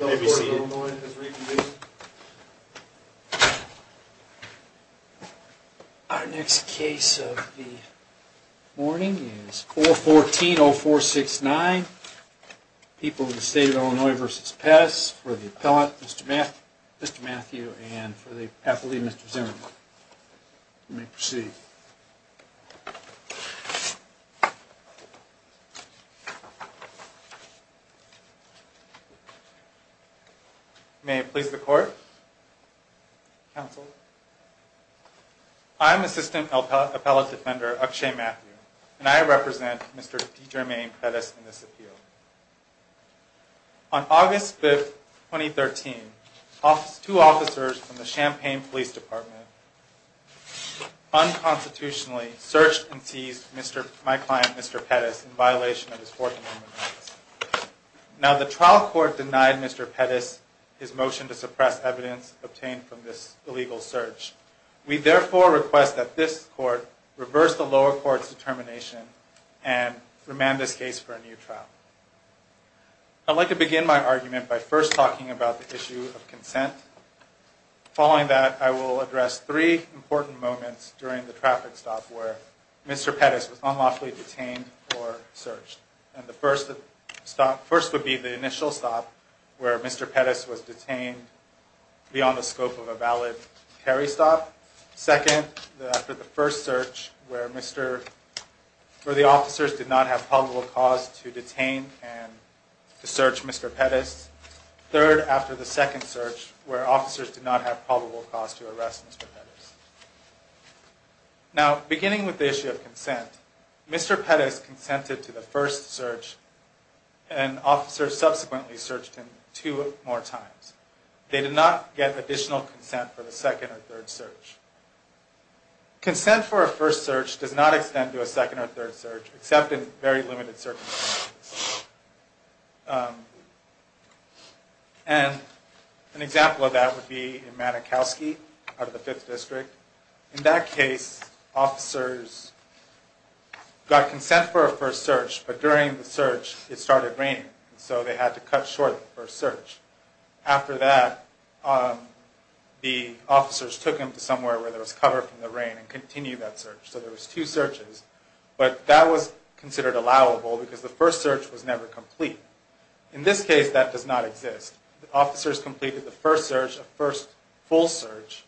Our next case of the morning is 414-0469, People of the State of Illinois v. Pettis for the appellant, Mr. Matthew, and for the athlete, Mr. Zimmerman. You may proceed. May it please the Court? Counsel? I am Assistant Appellate Defender Akshay Matthew, and I represent Mr. D. Jermaine Pettis in this appeal. On August 5, 2013, two officers from the Champaign Police Department unconstitutionally searched and seized my client, Mr. Pettis, in violation of his Fourth Amendment rights. Now, the trial court denied Mr. Pettis his motion to suppress evidence obtained from this illegal search. We therefore request that this Court reverse the lower court's determination and remand this case for a new trial. I'd like to begin my argument by first talking about the issue of consent. Following that, I will address three important moments during the traffic stop where Mr. Pettis was unlawfully detained or searched. The first would be the initial stop, where Mr. Pettis was detained beyond the scope of a valid carry stop. Second, after the first search, where the officers did not have probable cause to detain and to search Mr. Pettis. Third, after the second search, where officers did not have probable cause to arrest Mr. Pettis. Now, beginning with the issue of consent, Mr. Pettis consented to the first search, and officers subsequently searched him two more times. They did not get additional consent for the second or third search. Consent for a first search does not extend to a second or third search, except in very limited circumstances. An example of that would be in Manakowski out of the 5th District. In that case, officers got consent for a first search, but during the search it started raining, so they had to cut short the first search. After that, the officers took him to somewhere where there was cover from the rain and continued that search. So there was two searches, but that was considered allowable because the first search was never complete. In this case, that does not exist. The officers completed the first search, a first full search.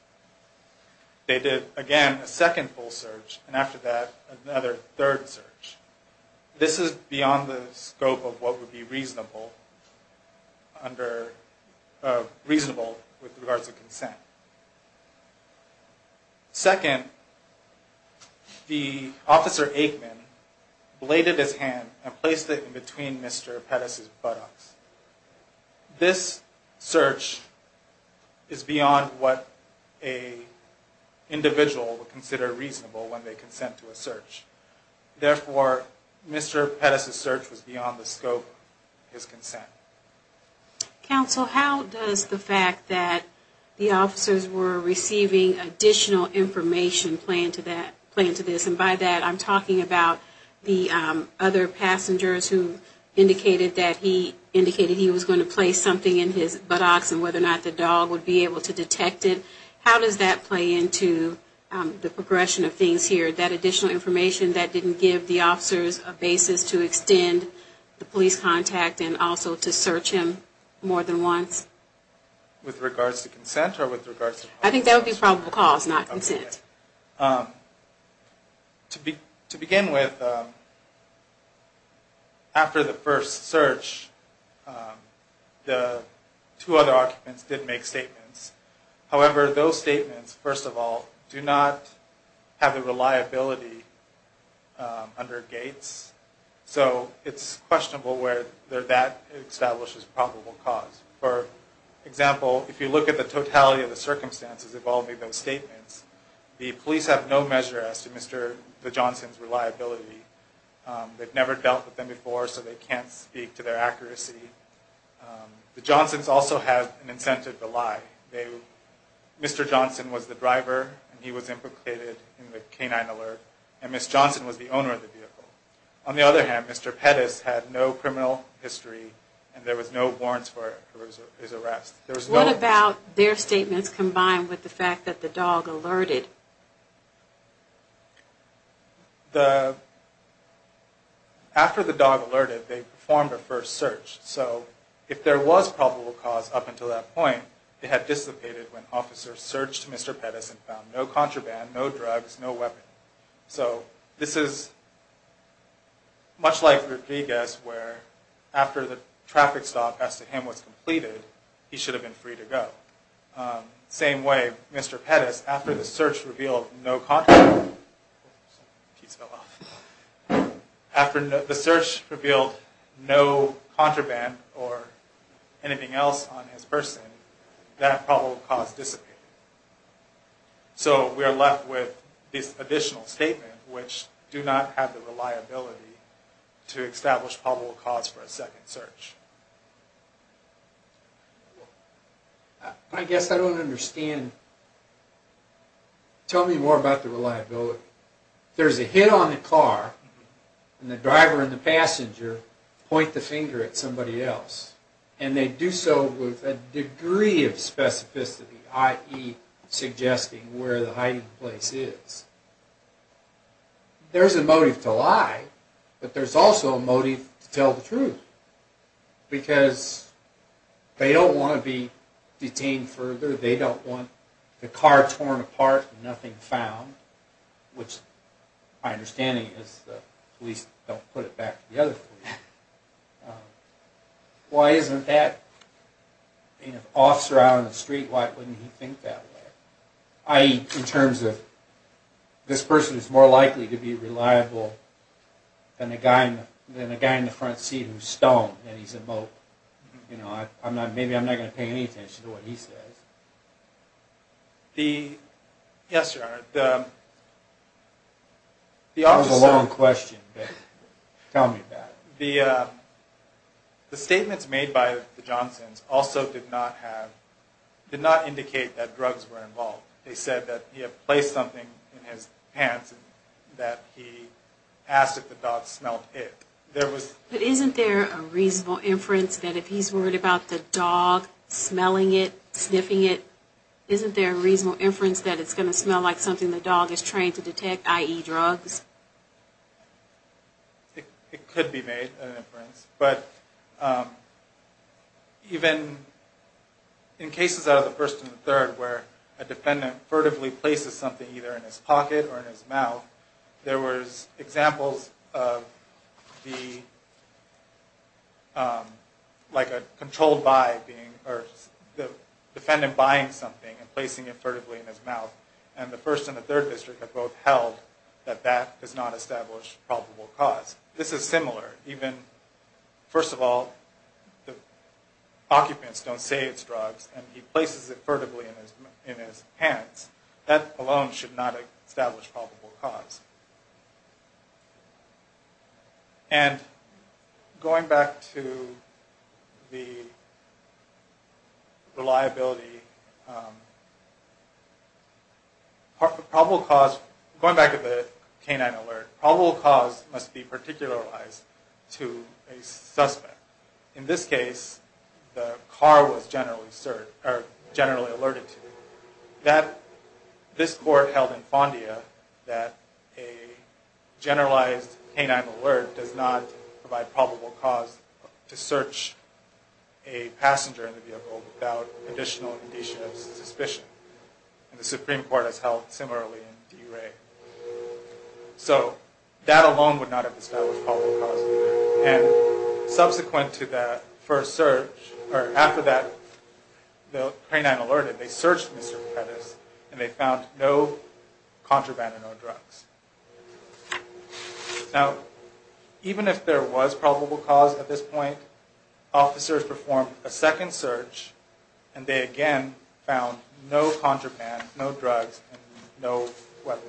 They did, again, a second full search, and after that, another third search. This is beyond the scope of what would be reasonable with regards to consent. Second, the officer Aikman bladed his hand and placed it in between Mr. Pettis' buttocks. This search is beyond what an individual would consider reasonable when they consent to a search. Therefore, Mr. Pettis' search was beyond the scope of his consent. Counsel, how does the fact that the officers were receiving additional information play into this? And by that, I'm talking about the other passengers who indicated that he was going to place something in his buttocks and whether or not the dog would be able to detect it. How does that play into the progression of things here? That additional information, that didn't give the officers a basis to extend the police contact and also to search him more than once? With regards to consent or with regards to... I think that would be probable cause, not consent. To begin with, after the first search, the two other occupants did make statements. However, those statements, first of all, do not have the reliability under Gates. So, it's questionable where that establishes probable cause. For example, if you look at the totality of the circumstances involving those statements, the police have no measure as to Mr. Johnson's reliability. They've never dealt with them before, so they can't speak to their accuracy. The Johnsons also have an incentive to lie. Mr. Johnson was the driver and he was implicated in the canine alert and Ms. Johnson was the owner of the vehicle. On the other hand, Mr. Pettis had no criminal history and there was no warrants for his arrest. What about their statements combined with the fact that the dog alerted? After the dog alerted, they performed a first search. So, if there was probable cause up until that point, it had dissipated when officers searched Mr. Pettis and found no contraband, no drugs, no weapon. So, this is much like Rodriguez where after the traffic stop as to him was completed, he should have been free to go. Same way, Mr. Pettis, after the search revealed no contraband or anything else on his person, that probable cause dissipated. So, we are left with this additional statement which do not have the reliability to establish probable cause for a second search. I guess I don't understand. Tell me more about the reliability. There is a hit on the car and the driver and the passenger point the finger at somebody else. And they do so with a degree of specificity, i.e. suggesting where the hiding place is. There is a motive to lie, but there is also a motive to tell the truth. Because they don't want to be detained further, they don't want the car torn apart and nothing found, which my understanding is the police don't put it back to the other police. Why isn't that? I mean, if an officer is out on the street, why wouldn't he think that way? I mean, in terms of, this person is more likely to be reliable than a guy in the front seat who's stoned and he's a mope. You know, maybe I'm not going to pay any attention to what he says. Yes, Your Honor. That was a long question, but tell me about it. The statements made by the Johnsons also did not indicate that drugs were involved. They said that he had placed something in his pants and that he asked if the dog smelled it. But isn't there a reasonable inference that if he's worried about the dog smelling it, sniffing it, isn't there a reasonable inference that it's going to smell like something the dog is trained to detect, i.e. drugs? It could be made an inference. But even in cases out of the first and the third where a defendant furtively places something either in his pocket or in his mouth, there was examples of the, like a controlled by being, or the defendant buying something and placing it furtively in his mouth. And the first and the third district have both held that that does not establish probable cause. This is similar. First of all, the occupants don't say it's drugs and he places it furtively in his pants. That alone should not establish probable cause. And going back to the reliability, going back to the canine alert, probable cause must be particularized to a suspect. In this case, the car was generally alerted to. This court held in Fondia that a generalized canine alert does not provide probable cause to search a passenger in the vehicle without additional indicia of suspicion. And the Supreme Court has held similarly in DeRay. So that alone would not have established probable cause. And subsequent to that first search, or after that the canine alerted, they searched Mr. Pettis and they found no contraband and no drugs. Now, even if there was probable cause at this point, officers performed a second search and they again found no contraband, no drugs, and no weapons.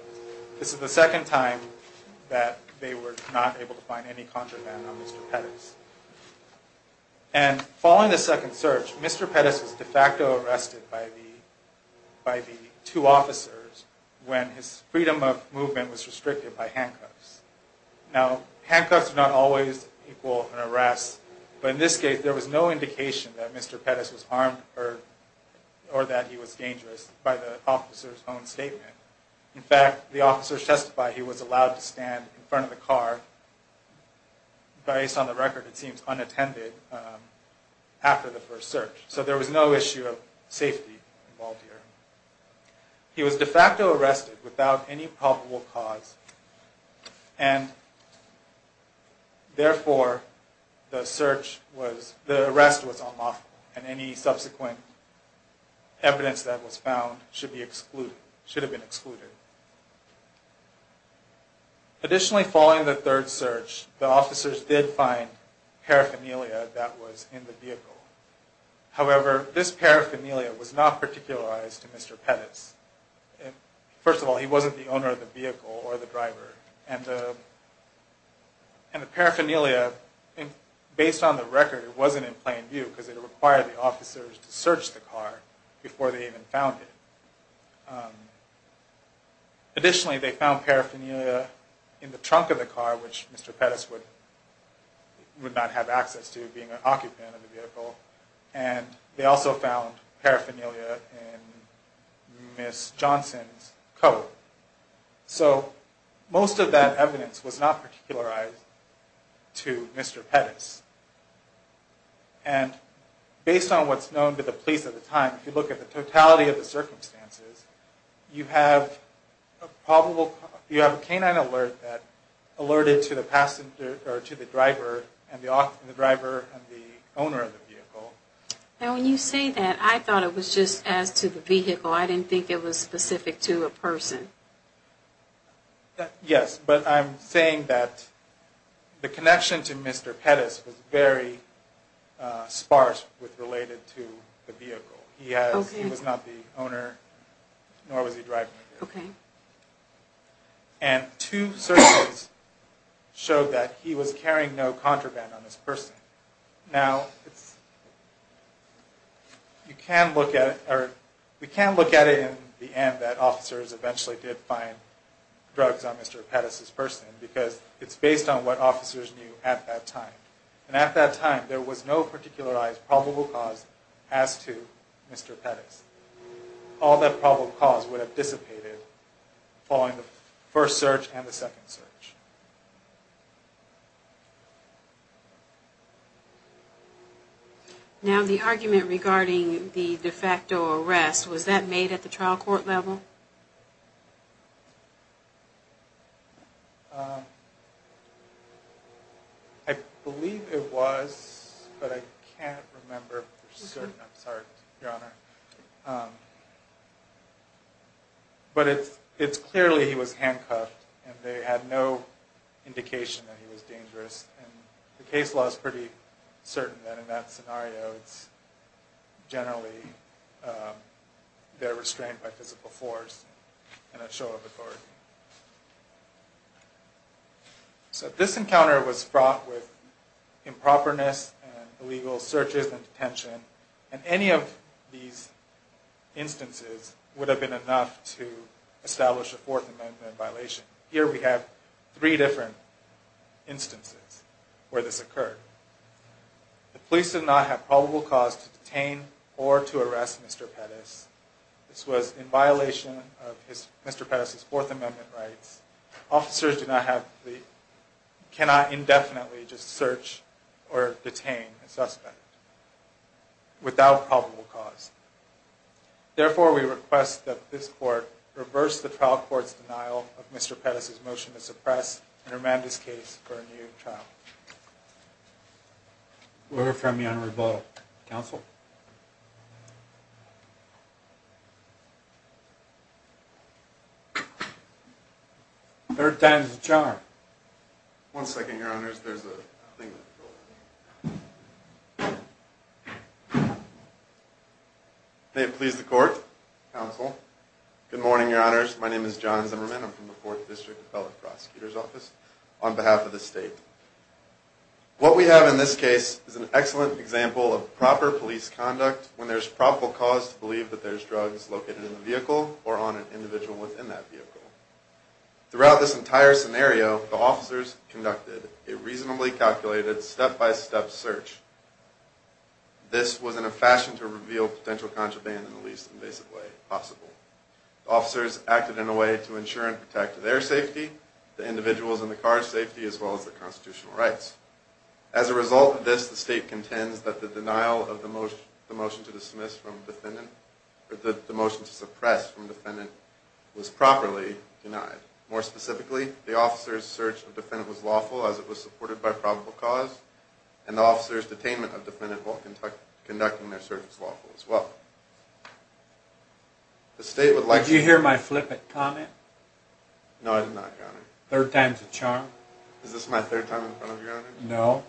This is the second time that they were not able to find any contraband on Mr. Pettis. And following the second search, Mr. Pettis was de facto arrested by the two officers when his freedom of movement was restricted by handcuffs. Now, handcuffs do not always equal an arrest, but in this case there was no indication that Mr. Pettis was harmed or that he was dangerous by the officer's own statement. In fact, the officers testified he was allowed to stand in front of the car, but based on the record it seems unattended after the first search. So there was no issue of safety involved here. He was de facto arrested without any probable cause, and therefore the arrest was unlawful and any subsequent evidence that was found should have been excluded. Additionally, following the third search, the officers did find paraphernalia that was in the vehicle. However, this paraphernalia was not particularized to Mr. Pettis. First of all, he wasn't the owner of the vehicle or the driver. And the paraphernalia, based on the record, wasn't in plain view because it required the officers to search the car before they even found it. Additionally, they found paraphernalia in the trunk of the car, which Mr. Pettis would not have access to being an occupant of the vehicle. And they also found paraphernalia in Ms. Johnson's coat. So, most of that evidence was not particularized to Mr. Pettis. And based on what's known to the police at the time, if you look at the totality of the circumstances, you have a canine alert that alerted to the driver and the owner of the vehicle. And when you say that, I thought it was just as to the vehicle. I didn't think it was specific to a person. Yes, but I'm saying that the connection to Mr. Pettis was very sparse with related to the vehicle. He was not the owner, nor was he driving the vehicle. And two searches showed that he was carrying no contraband on his person. Now, we can look at it in the end that officers eventually did find drugs on Mr. Pettis' person because it's based on what officers knew at that time. And at that time, there was no particularized probable cause as to Mr. Pettis. All that probable cause would have dissipated following the first search and the second search. Now, the argument regarding the de facto arrest, was that made at the trial court level? I believe it was, but I can't remember for certain. I'm sorry, Your Honor. But it's clearly he was handcuffed and they had no indication that he was dangerous. And the case law is pretty certain that in that scenario, it's generally they're restrained by physical force and a show of authority. So this encounter was fraught with improperness and illegal searches and detention. And any of these instances would have been enough to establish a Fourth Amendment violation. Here we have three different instances where this occurred. The police did not have probable cause to detain or to arrest Mr. Pettis. This was in violation of Mr. Pettis' Fourth Amendment rights. Officers cannot indefinitely just search or detain a suspect. Without probable cause. Therefore, we request that this court reverse the trial court's denial of Mr. Pettis' motion to suppress and remand his case for a new trial. We'll refer you to me on rebuttal. Counsel? Third time's the charm. One second, Your Honors. There's a thing... May it please the court. Counsel. Good morning, Your Honors. My name is John Zimmerman. I'm from the Fourth District Appellate Prosecutor's Office. On behalf of the state. What we have in this case is an excellent example of proper police conduct when there's probable cause to believe that there's drugs located in the vehicle or on an individual within that vehicle. Throughout this entire scenario, the officers conducted a reasonably calculated step-by-step search. This was in a fashion to reveal potential contraband in the least invasive way possible. Officers acted in a way to ensure and protect their safety, the individuals in the car's safety, as well as their constitutional rights. As a result of this, the state contends that the denial of the motion to dismiss from defendant, or the motion to suppress from defendant, was properly denied. More specifically, the officers' search of defendant was lawful as it was supported by probable cause, and the officers' detainment of defendant while conducting their search was lawful as well. The state would like... Did you hear my flip it comment? No, I did not, Your Honor. Third time's the charm. Is this my third time in front of you, Your Honor? No.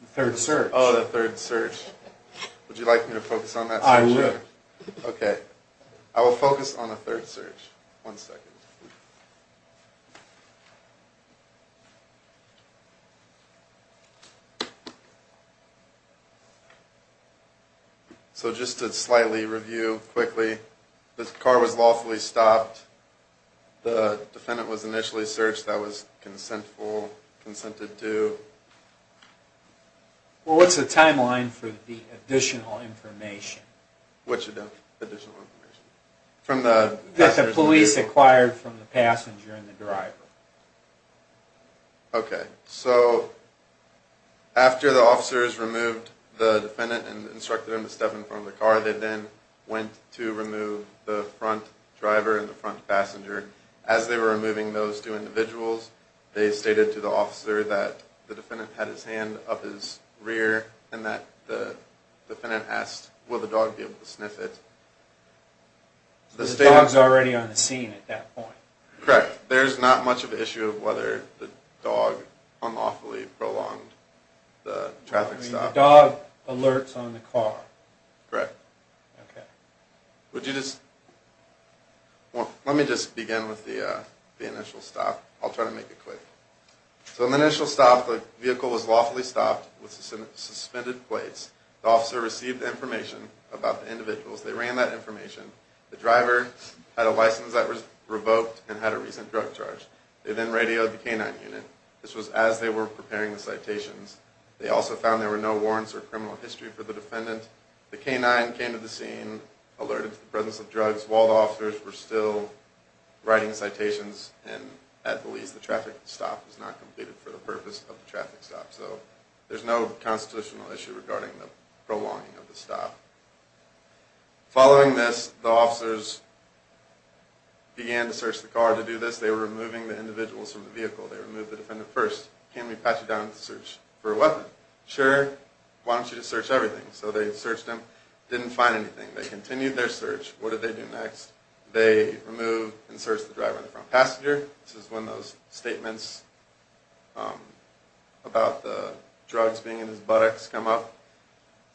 The third search. Oh, the third search. Would you like me to focus on that search? I would. Okay. I will focus on the third search. One second. Okay. So just to slightly review quickly, the car was lawfully stopped, the defendant was initially searched, that was consentful, consented to... Well, what's the timeline for the additional information? What additional information? That the police acquired from the passenger and the driver. Okay. So, after the officers removed the defendant and instructed him to step in front of the car, they then went to remove the front driver and the front passenger. As they were removing those two individuals, they stated to the officer that the defendant had his hand up his rear and that the defendant asked, will the dog be able to sniff it? The dog's already on the scene at that point. Correct. There's not much of an issue of whether the dog unlawfully prolonged the traffic stop. I mean, the dog alerts on the car. Correct. Okay. Would you just... Well, let me just begin with the initial stop. I'll try to make it quick. So in the initial stop, the vehicle was lawfully stopped with suspended plates. The officer received information about the individuals. They ran that information. The driver had a license that was revoked and had a recent drug charge. They then radioed the K-9 unit. This was as they were preparing the citations. They also found there were no warrants or criminal history for the defendant. The K-9 came to the scene, alerted to the presence of drugs, while the officers were still writing citations. And at the least, the traffic stop was not completed for the purpose of the traffic stop. So there's no constitutional issue regarding the prolonging of the stop. Following this, the officers began to search the car. To do this, they were removing the individuals from the vehicle. They removed the defendant first. Can we pat you down to search for a weapon? Sure. Why don't you just search everything? So they searched him. Didn't find anything. They continued their search. What did they do next? They removed and searched the driver and the front passenger. This is when those statements about the drugs being in his buttocks come up.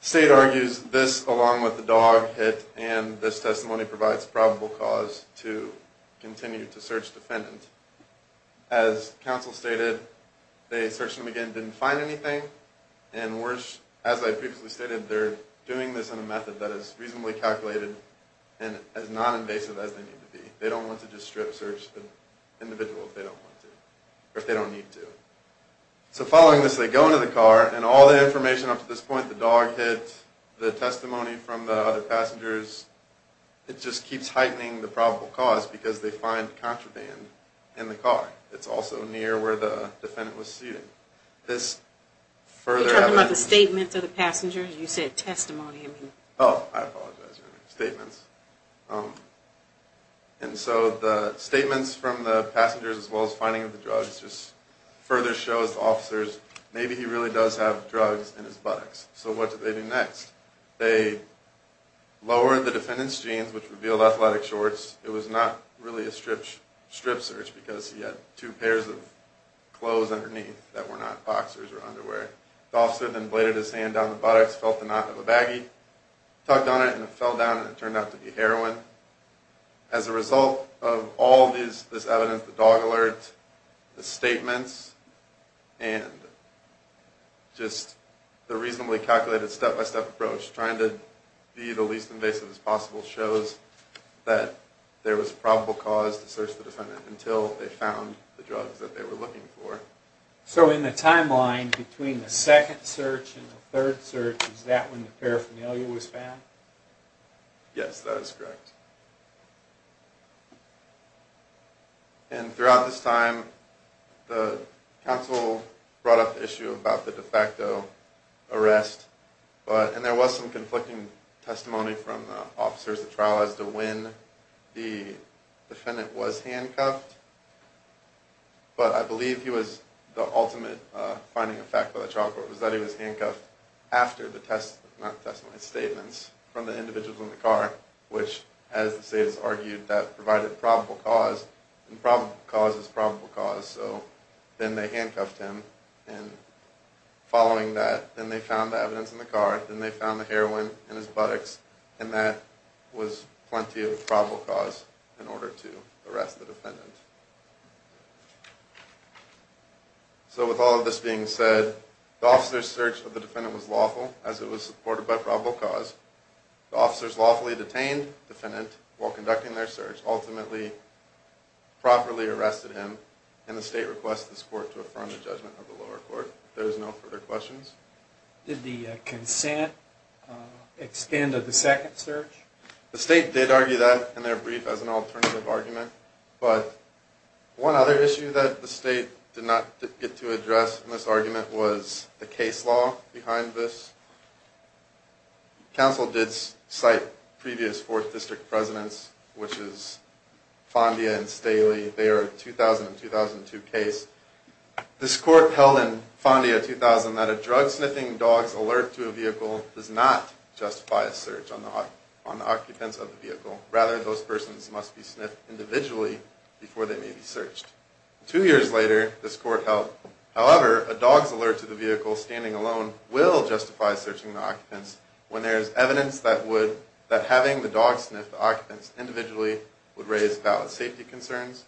The state argues this along with the dog hit and this testimony provides probable cause to continue to search the defendant. As counsel stated, they searched him again. They didn't find anything. And worse, as I previously stated, they're doing this in a method that is reasonably calculated and as non-invasive as they need to be. They don't want to just strip search the individuals they don't want to, or if they don't need to. So following this, they go into the car. And all the information up to this point, the dog hit, the testimony from the other passengers, it just keeps heightening the probable cause because they find contraband in the car. It's also near where the defendant was seated. This further evidence... Are you talking about the statements of the passengers? You said testimony. Oh, I apologize. Statements. And so the statements from the passengers as well as finding the drugs just further shows the officers maybe he really does have drugs in his buttocks. So what did they do next? They lowered the defendant's jeans, which revealed athletic shorts. It was not really a strip search because he had two pairs of clothes underneath that were not boxers or underwear. The officer then bladed his hand down the buttocks, felt the knot of a baggie, tucked on it, and it fell down and it turned out to be heroin. As a result of all this evidence, the dog alert, the statements, and just the reasonably calculated step-by-step approach trying to be the least invasive as possible shows that there was probable cause to search the defendant until they found the drugs that they were looking for. So in the timeline between the second search and the third search, is that when the paraphernalia was found? Yes, that is correct. And throughout this time, the counsel brought up the issue about the de facto arrest, and there was some conflicting testimony from the officers. The trial has to win. The defendant was handcuffed, but I believe he was the ultimate finding of fact by the trial court was that he was handcuffed after the statements from the individuals in the car, which, as the state has argued, that provided probable cause, and probable cause is probable cause. So then they handcuffed him, and following that, then they found the evidence in the car, then they found the heroin in his buttocks, and that was plenty of probable cause in order to arrest the defendant. So with all of this being said, the officer's search of the defendant was lawful, as it was supported by probable cause. The officers lawfully detained the defendant while conducting their search, which ultimately properly arrested him, and the state requests this court to affirm the judgment of the lower court. There is no further questions. Did the consent extend of the second search? The state did argue that in their brief as an alternative argument, but one other issue that the state did not get to address in this argument was the case law behind this. Council did cite previous Fourth District presidents, which is Fondia and Staley. They are a 2000 and 2002 case. This court held in Fondia 2000 that a drug sniffing dog's alert to a vehicle does not justify a search on the occupants of the vehicle. Rather, those persons must be sniffed individually before they may be searched. Two years later, this court held, however, a dog's alert to the vehicle standing alone will justify searching the occupants when there is evidence that having the dog sniff the occupants individually would raise valid safety concerns.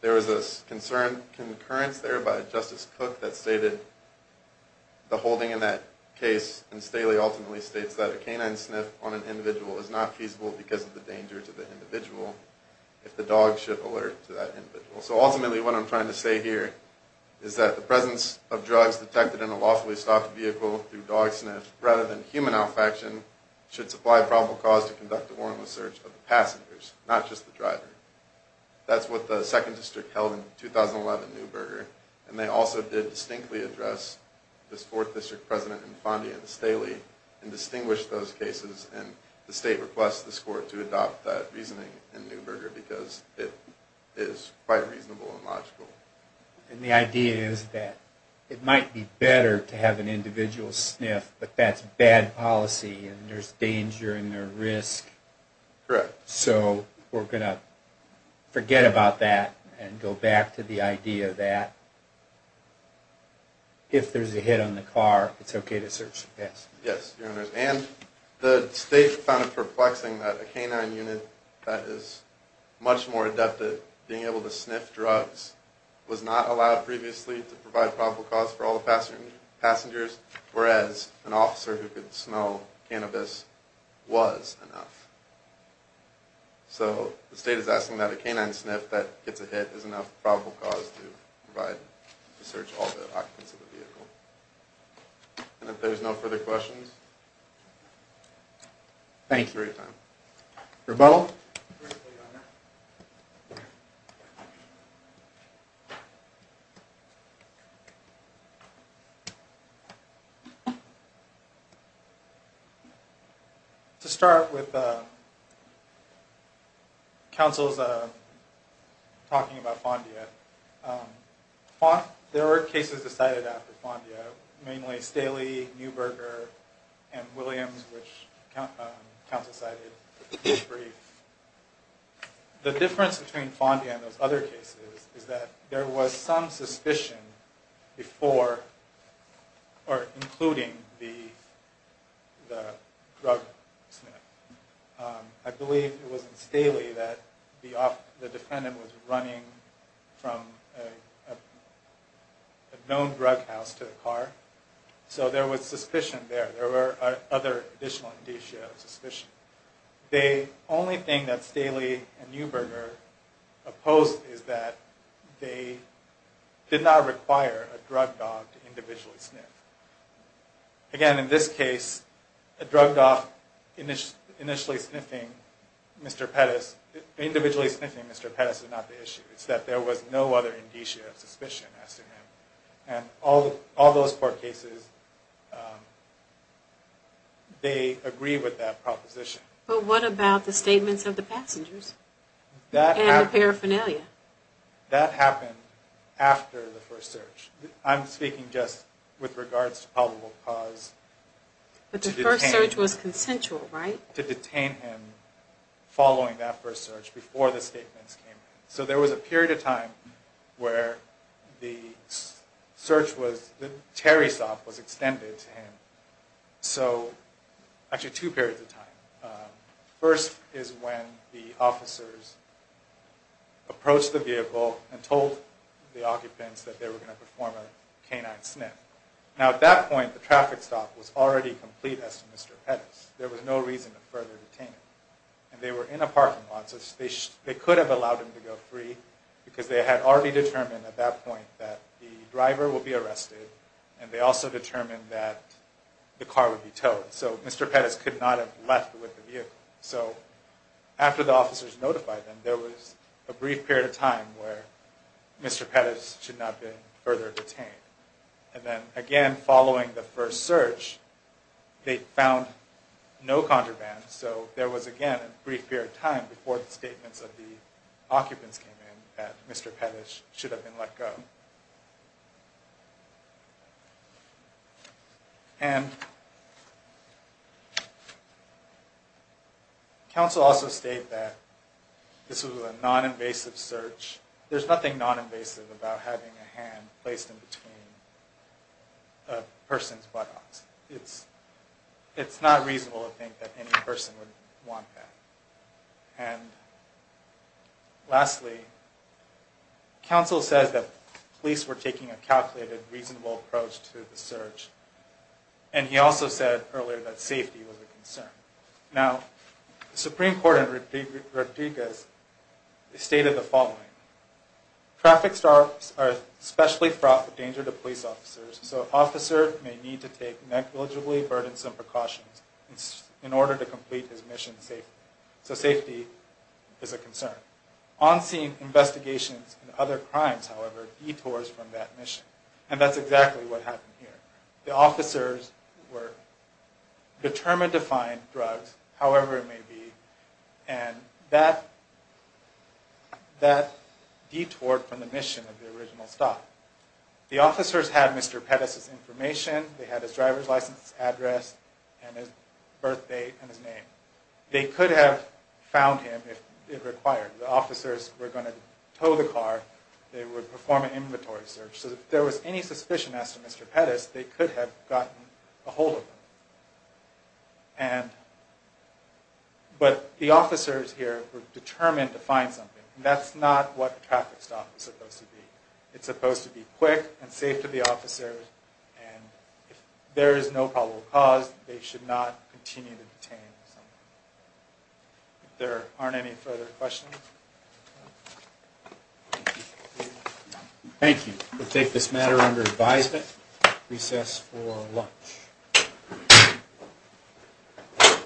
There was a concern concurrence there by Justice Cook that stated the holding in that case, and Staley ultimately states that a canine sniff on an individual is not feasible because of the danger to the individual if the dog should alert to that individual. So ultimately what I'm trying to say here is that the presence of drugs detected in a lawfully stocked vehicle through dog sniff rather than human olfaction should supply probable cause to conduct a warrantless search of the passengers, not just the driver. That's what the Second District held in 2011 Newberger, and they also did distinctly address this Fourth District president in Fondia and Staley and distinguished those cases, and the state requests this court to adopt that reasoning in Newberger because it is quite reasonable and logical. And the idea is that it might be better to have an individual sniff, but that's bad policy and there's danger and there's risk. Correct. So we're going to forget about that and go back to the idea that if there's a hit on the car, it's okay to search the passenger. Yes, Your Honors. And the state found it perplexing that a canine unit that is much more adept at being able to sniff drugs was not allowed previously to provide probable cause for all the passengers, whereas an officer who could smell cannabis was enough. So the state is asking that a canine sniff that gets a hit is enough probable cause to search all the occupants of the vehicle. And if there's no further questions, thank you for your time. Rebuttal. First plea, Your Honor. To start with counsel's talking about Fondia, there were cases decided after Fondia, mainly Staley, Neuberger, and Williams, which counsel cited in this brief. The difference between Fondia and those other cases is that there was some suspicion before, or including the drug sniff. I believe it was in Staley that the defendant was running from a known drug house to the car. So there was suspicion there. There were other additional indicia of suspicion. The only thing that Staley and Neuberger opposed is that they did not require a drug dog to individually sniff. Again, in this case, a drug dog initially sniffing Mr. Pettis, individually sniffing Mr. Pettis is not the issue. It's that there was no other indicia of suspicion as to him. And all those four cases, they agree with that proposition. But what about the statements of the passengers and the paraphernalia? That happened after the first search. I'm speaking just with regards to probable cause. But the first search was consensual, right? To detain him following that first search before the statements came in. So there was a period of time where the search was, the tarry stop was extended to him. So, actually two periods of time. First is when the officers approached the vehicle and told the occupants that they were going to perform a canine sniff. Now, at that point, the traffic stop was already complete as to Mr. Pettis. There was no reason to further detain him. And they were in a parking lot, so they could have allowed him to go free, because they had already determined at that point that the driver would be arrested, and they also determined that the car would be towed. So Mr. Pettis could not have left with the vehicle. So after the officers notified them, there was a brief period of time where Mr. Pettis should not have been further detained. And then, again, following the first search, they found no contraband. So there was, again, a brief period of time before the statements of the occupants came in that Mr. Pettis should have been let go. And... counsel also stated that this was a non-invasive search. There's nothing non-invasive about having a hand placed in between a person's buttocks. It's not reasonable to think that any person would want that. And... lastly, counsel says that police were taking a calculated, reasonable approach to the search. And he also said earlier that safety was a concern. Now, the Supreme Court in Rodriguez stated the following. Traffic stops are especially fraught with danger to police officers, so an officer may need to take negligibly burdensome precautions in order to complete his mission safely. So safety is a concern. On-scene investigations and other crimes, however, detours from that mission. And that's exactly what happened here. The officers were determined to find drugs, however it may be, and that detoured from the mission of the original stop. The officers had Mr. Pettis' information. They had his driver's license address and his birth date and his name. They could have found him if it required. The officers were going to tow the car. They would perform an inventory search. So if there was any suspicion as to Mr. Pettis, they could have gotten a hold of him. And... but the officers here were determined to find something. And that's not what a traffic stop is supposed to be. It's supposed to be quick and safe to the officers. And if there is no probable cause, they should not continue to detain someone. If there aren't any further questions... Thank you. We'll take this matter under advisement. Recess for lunch.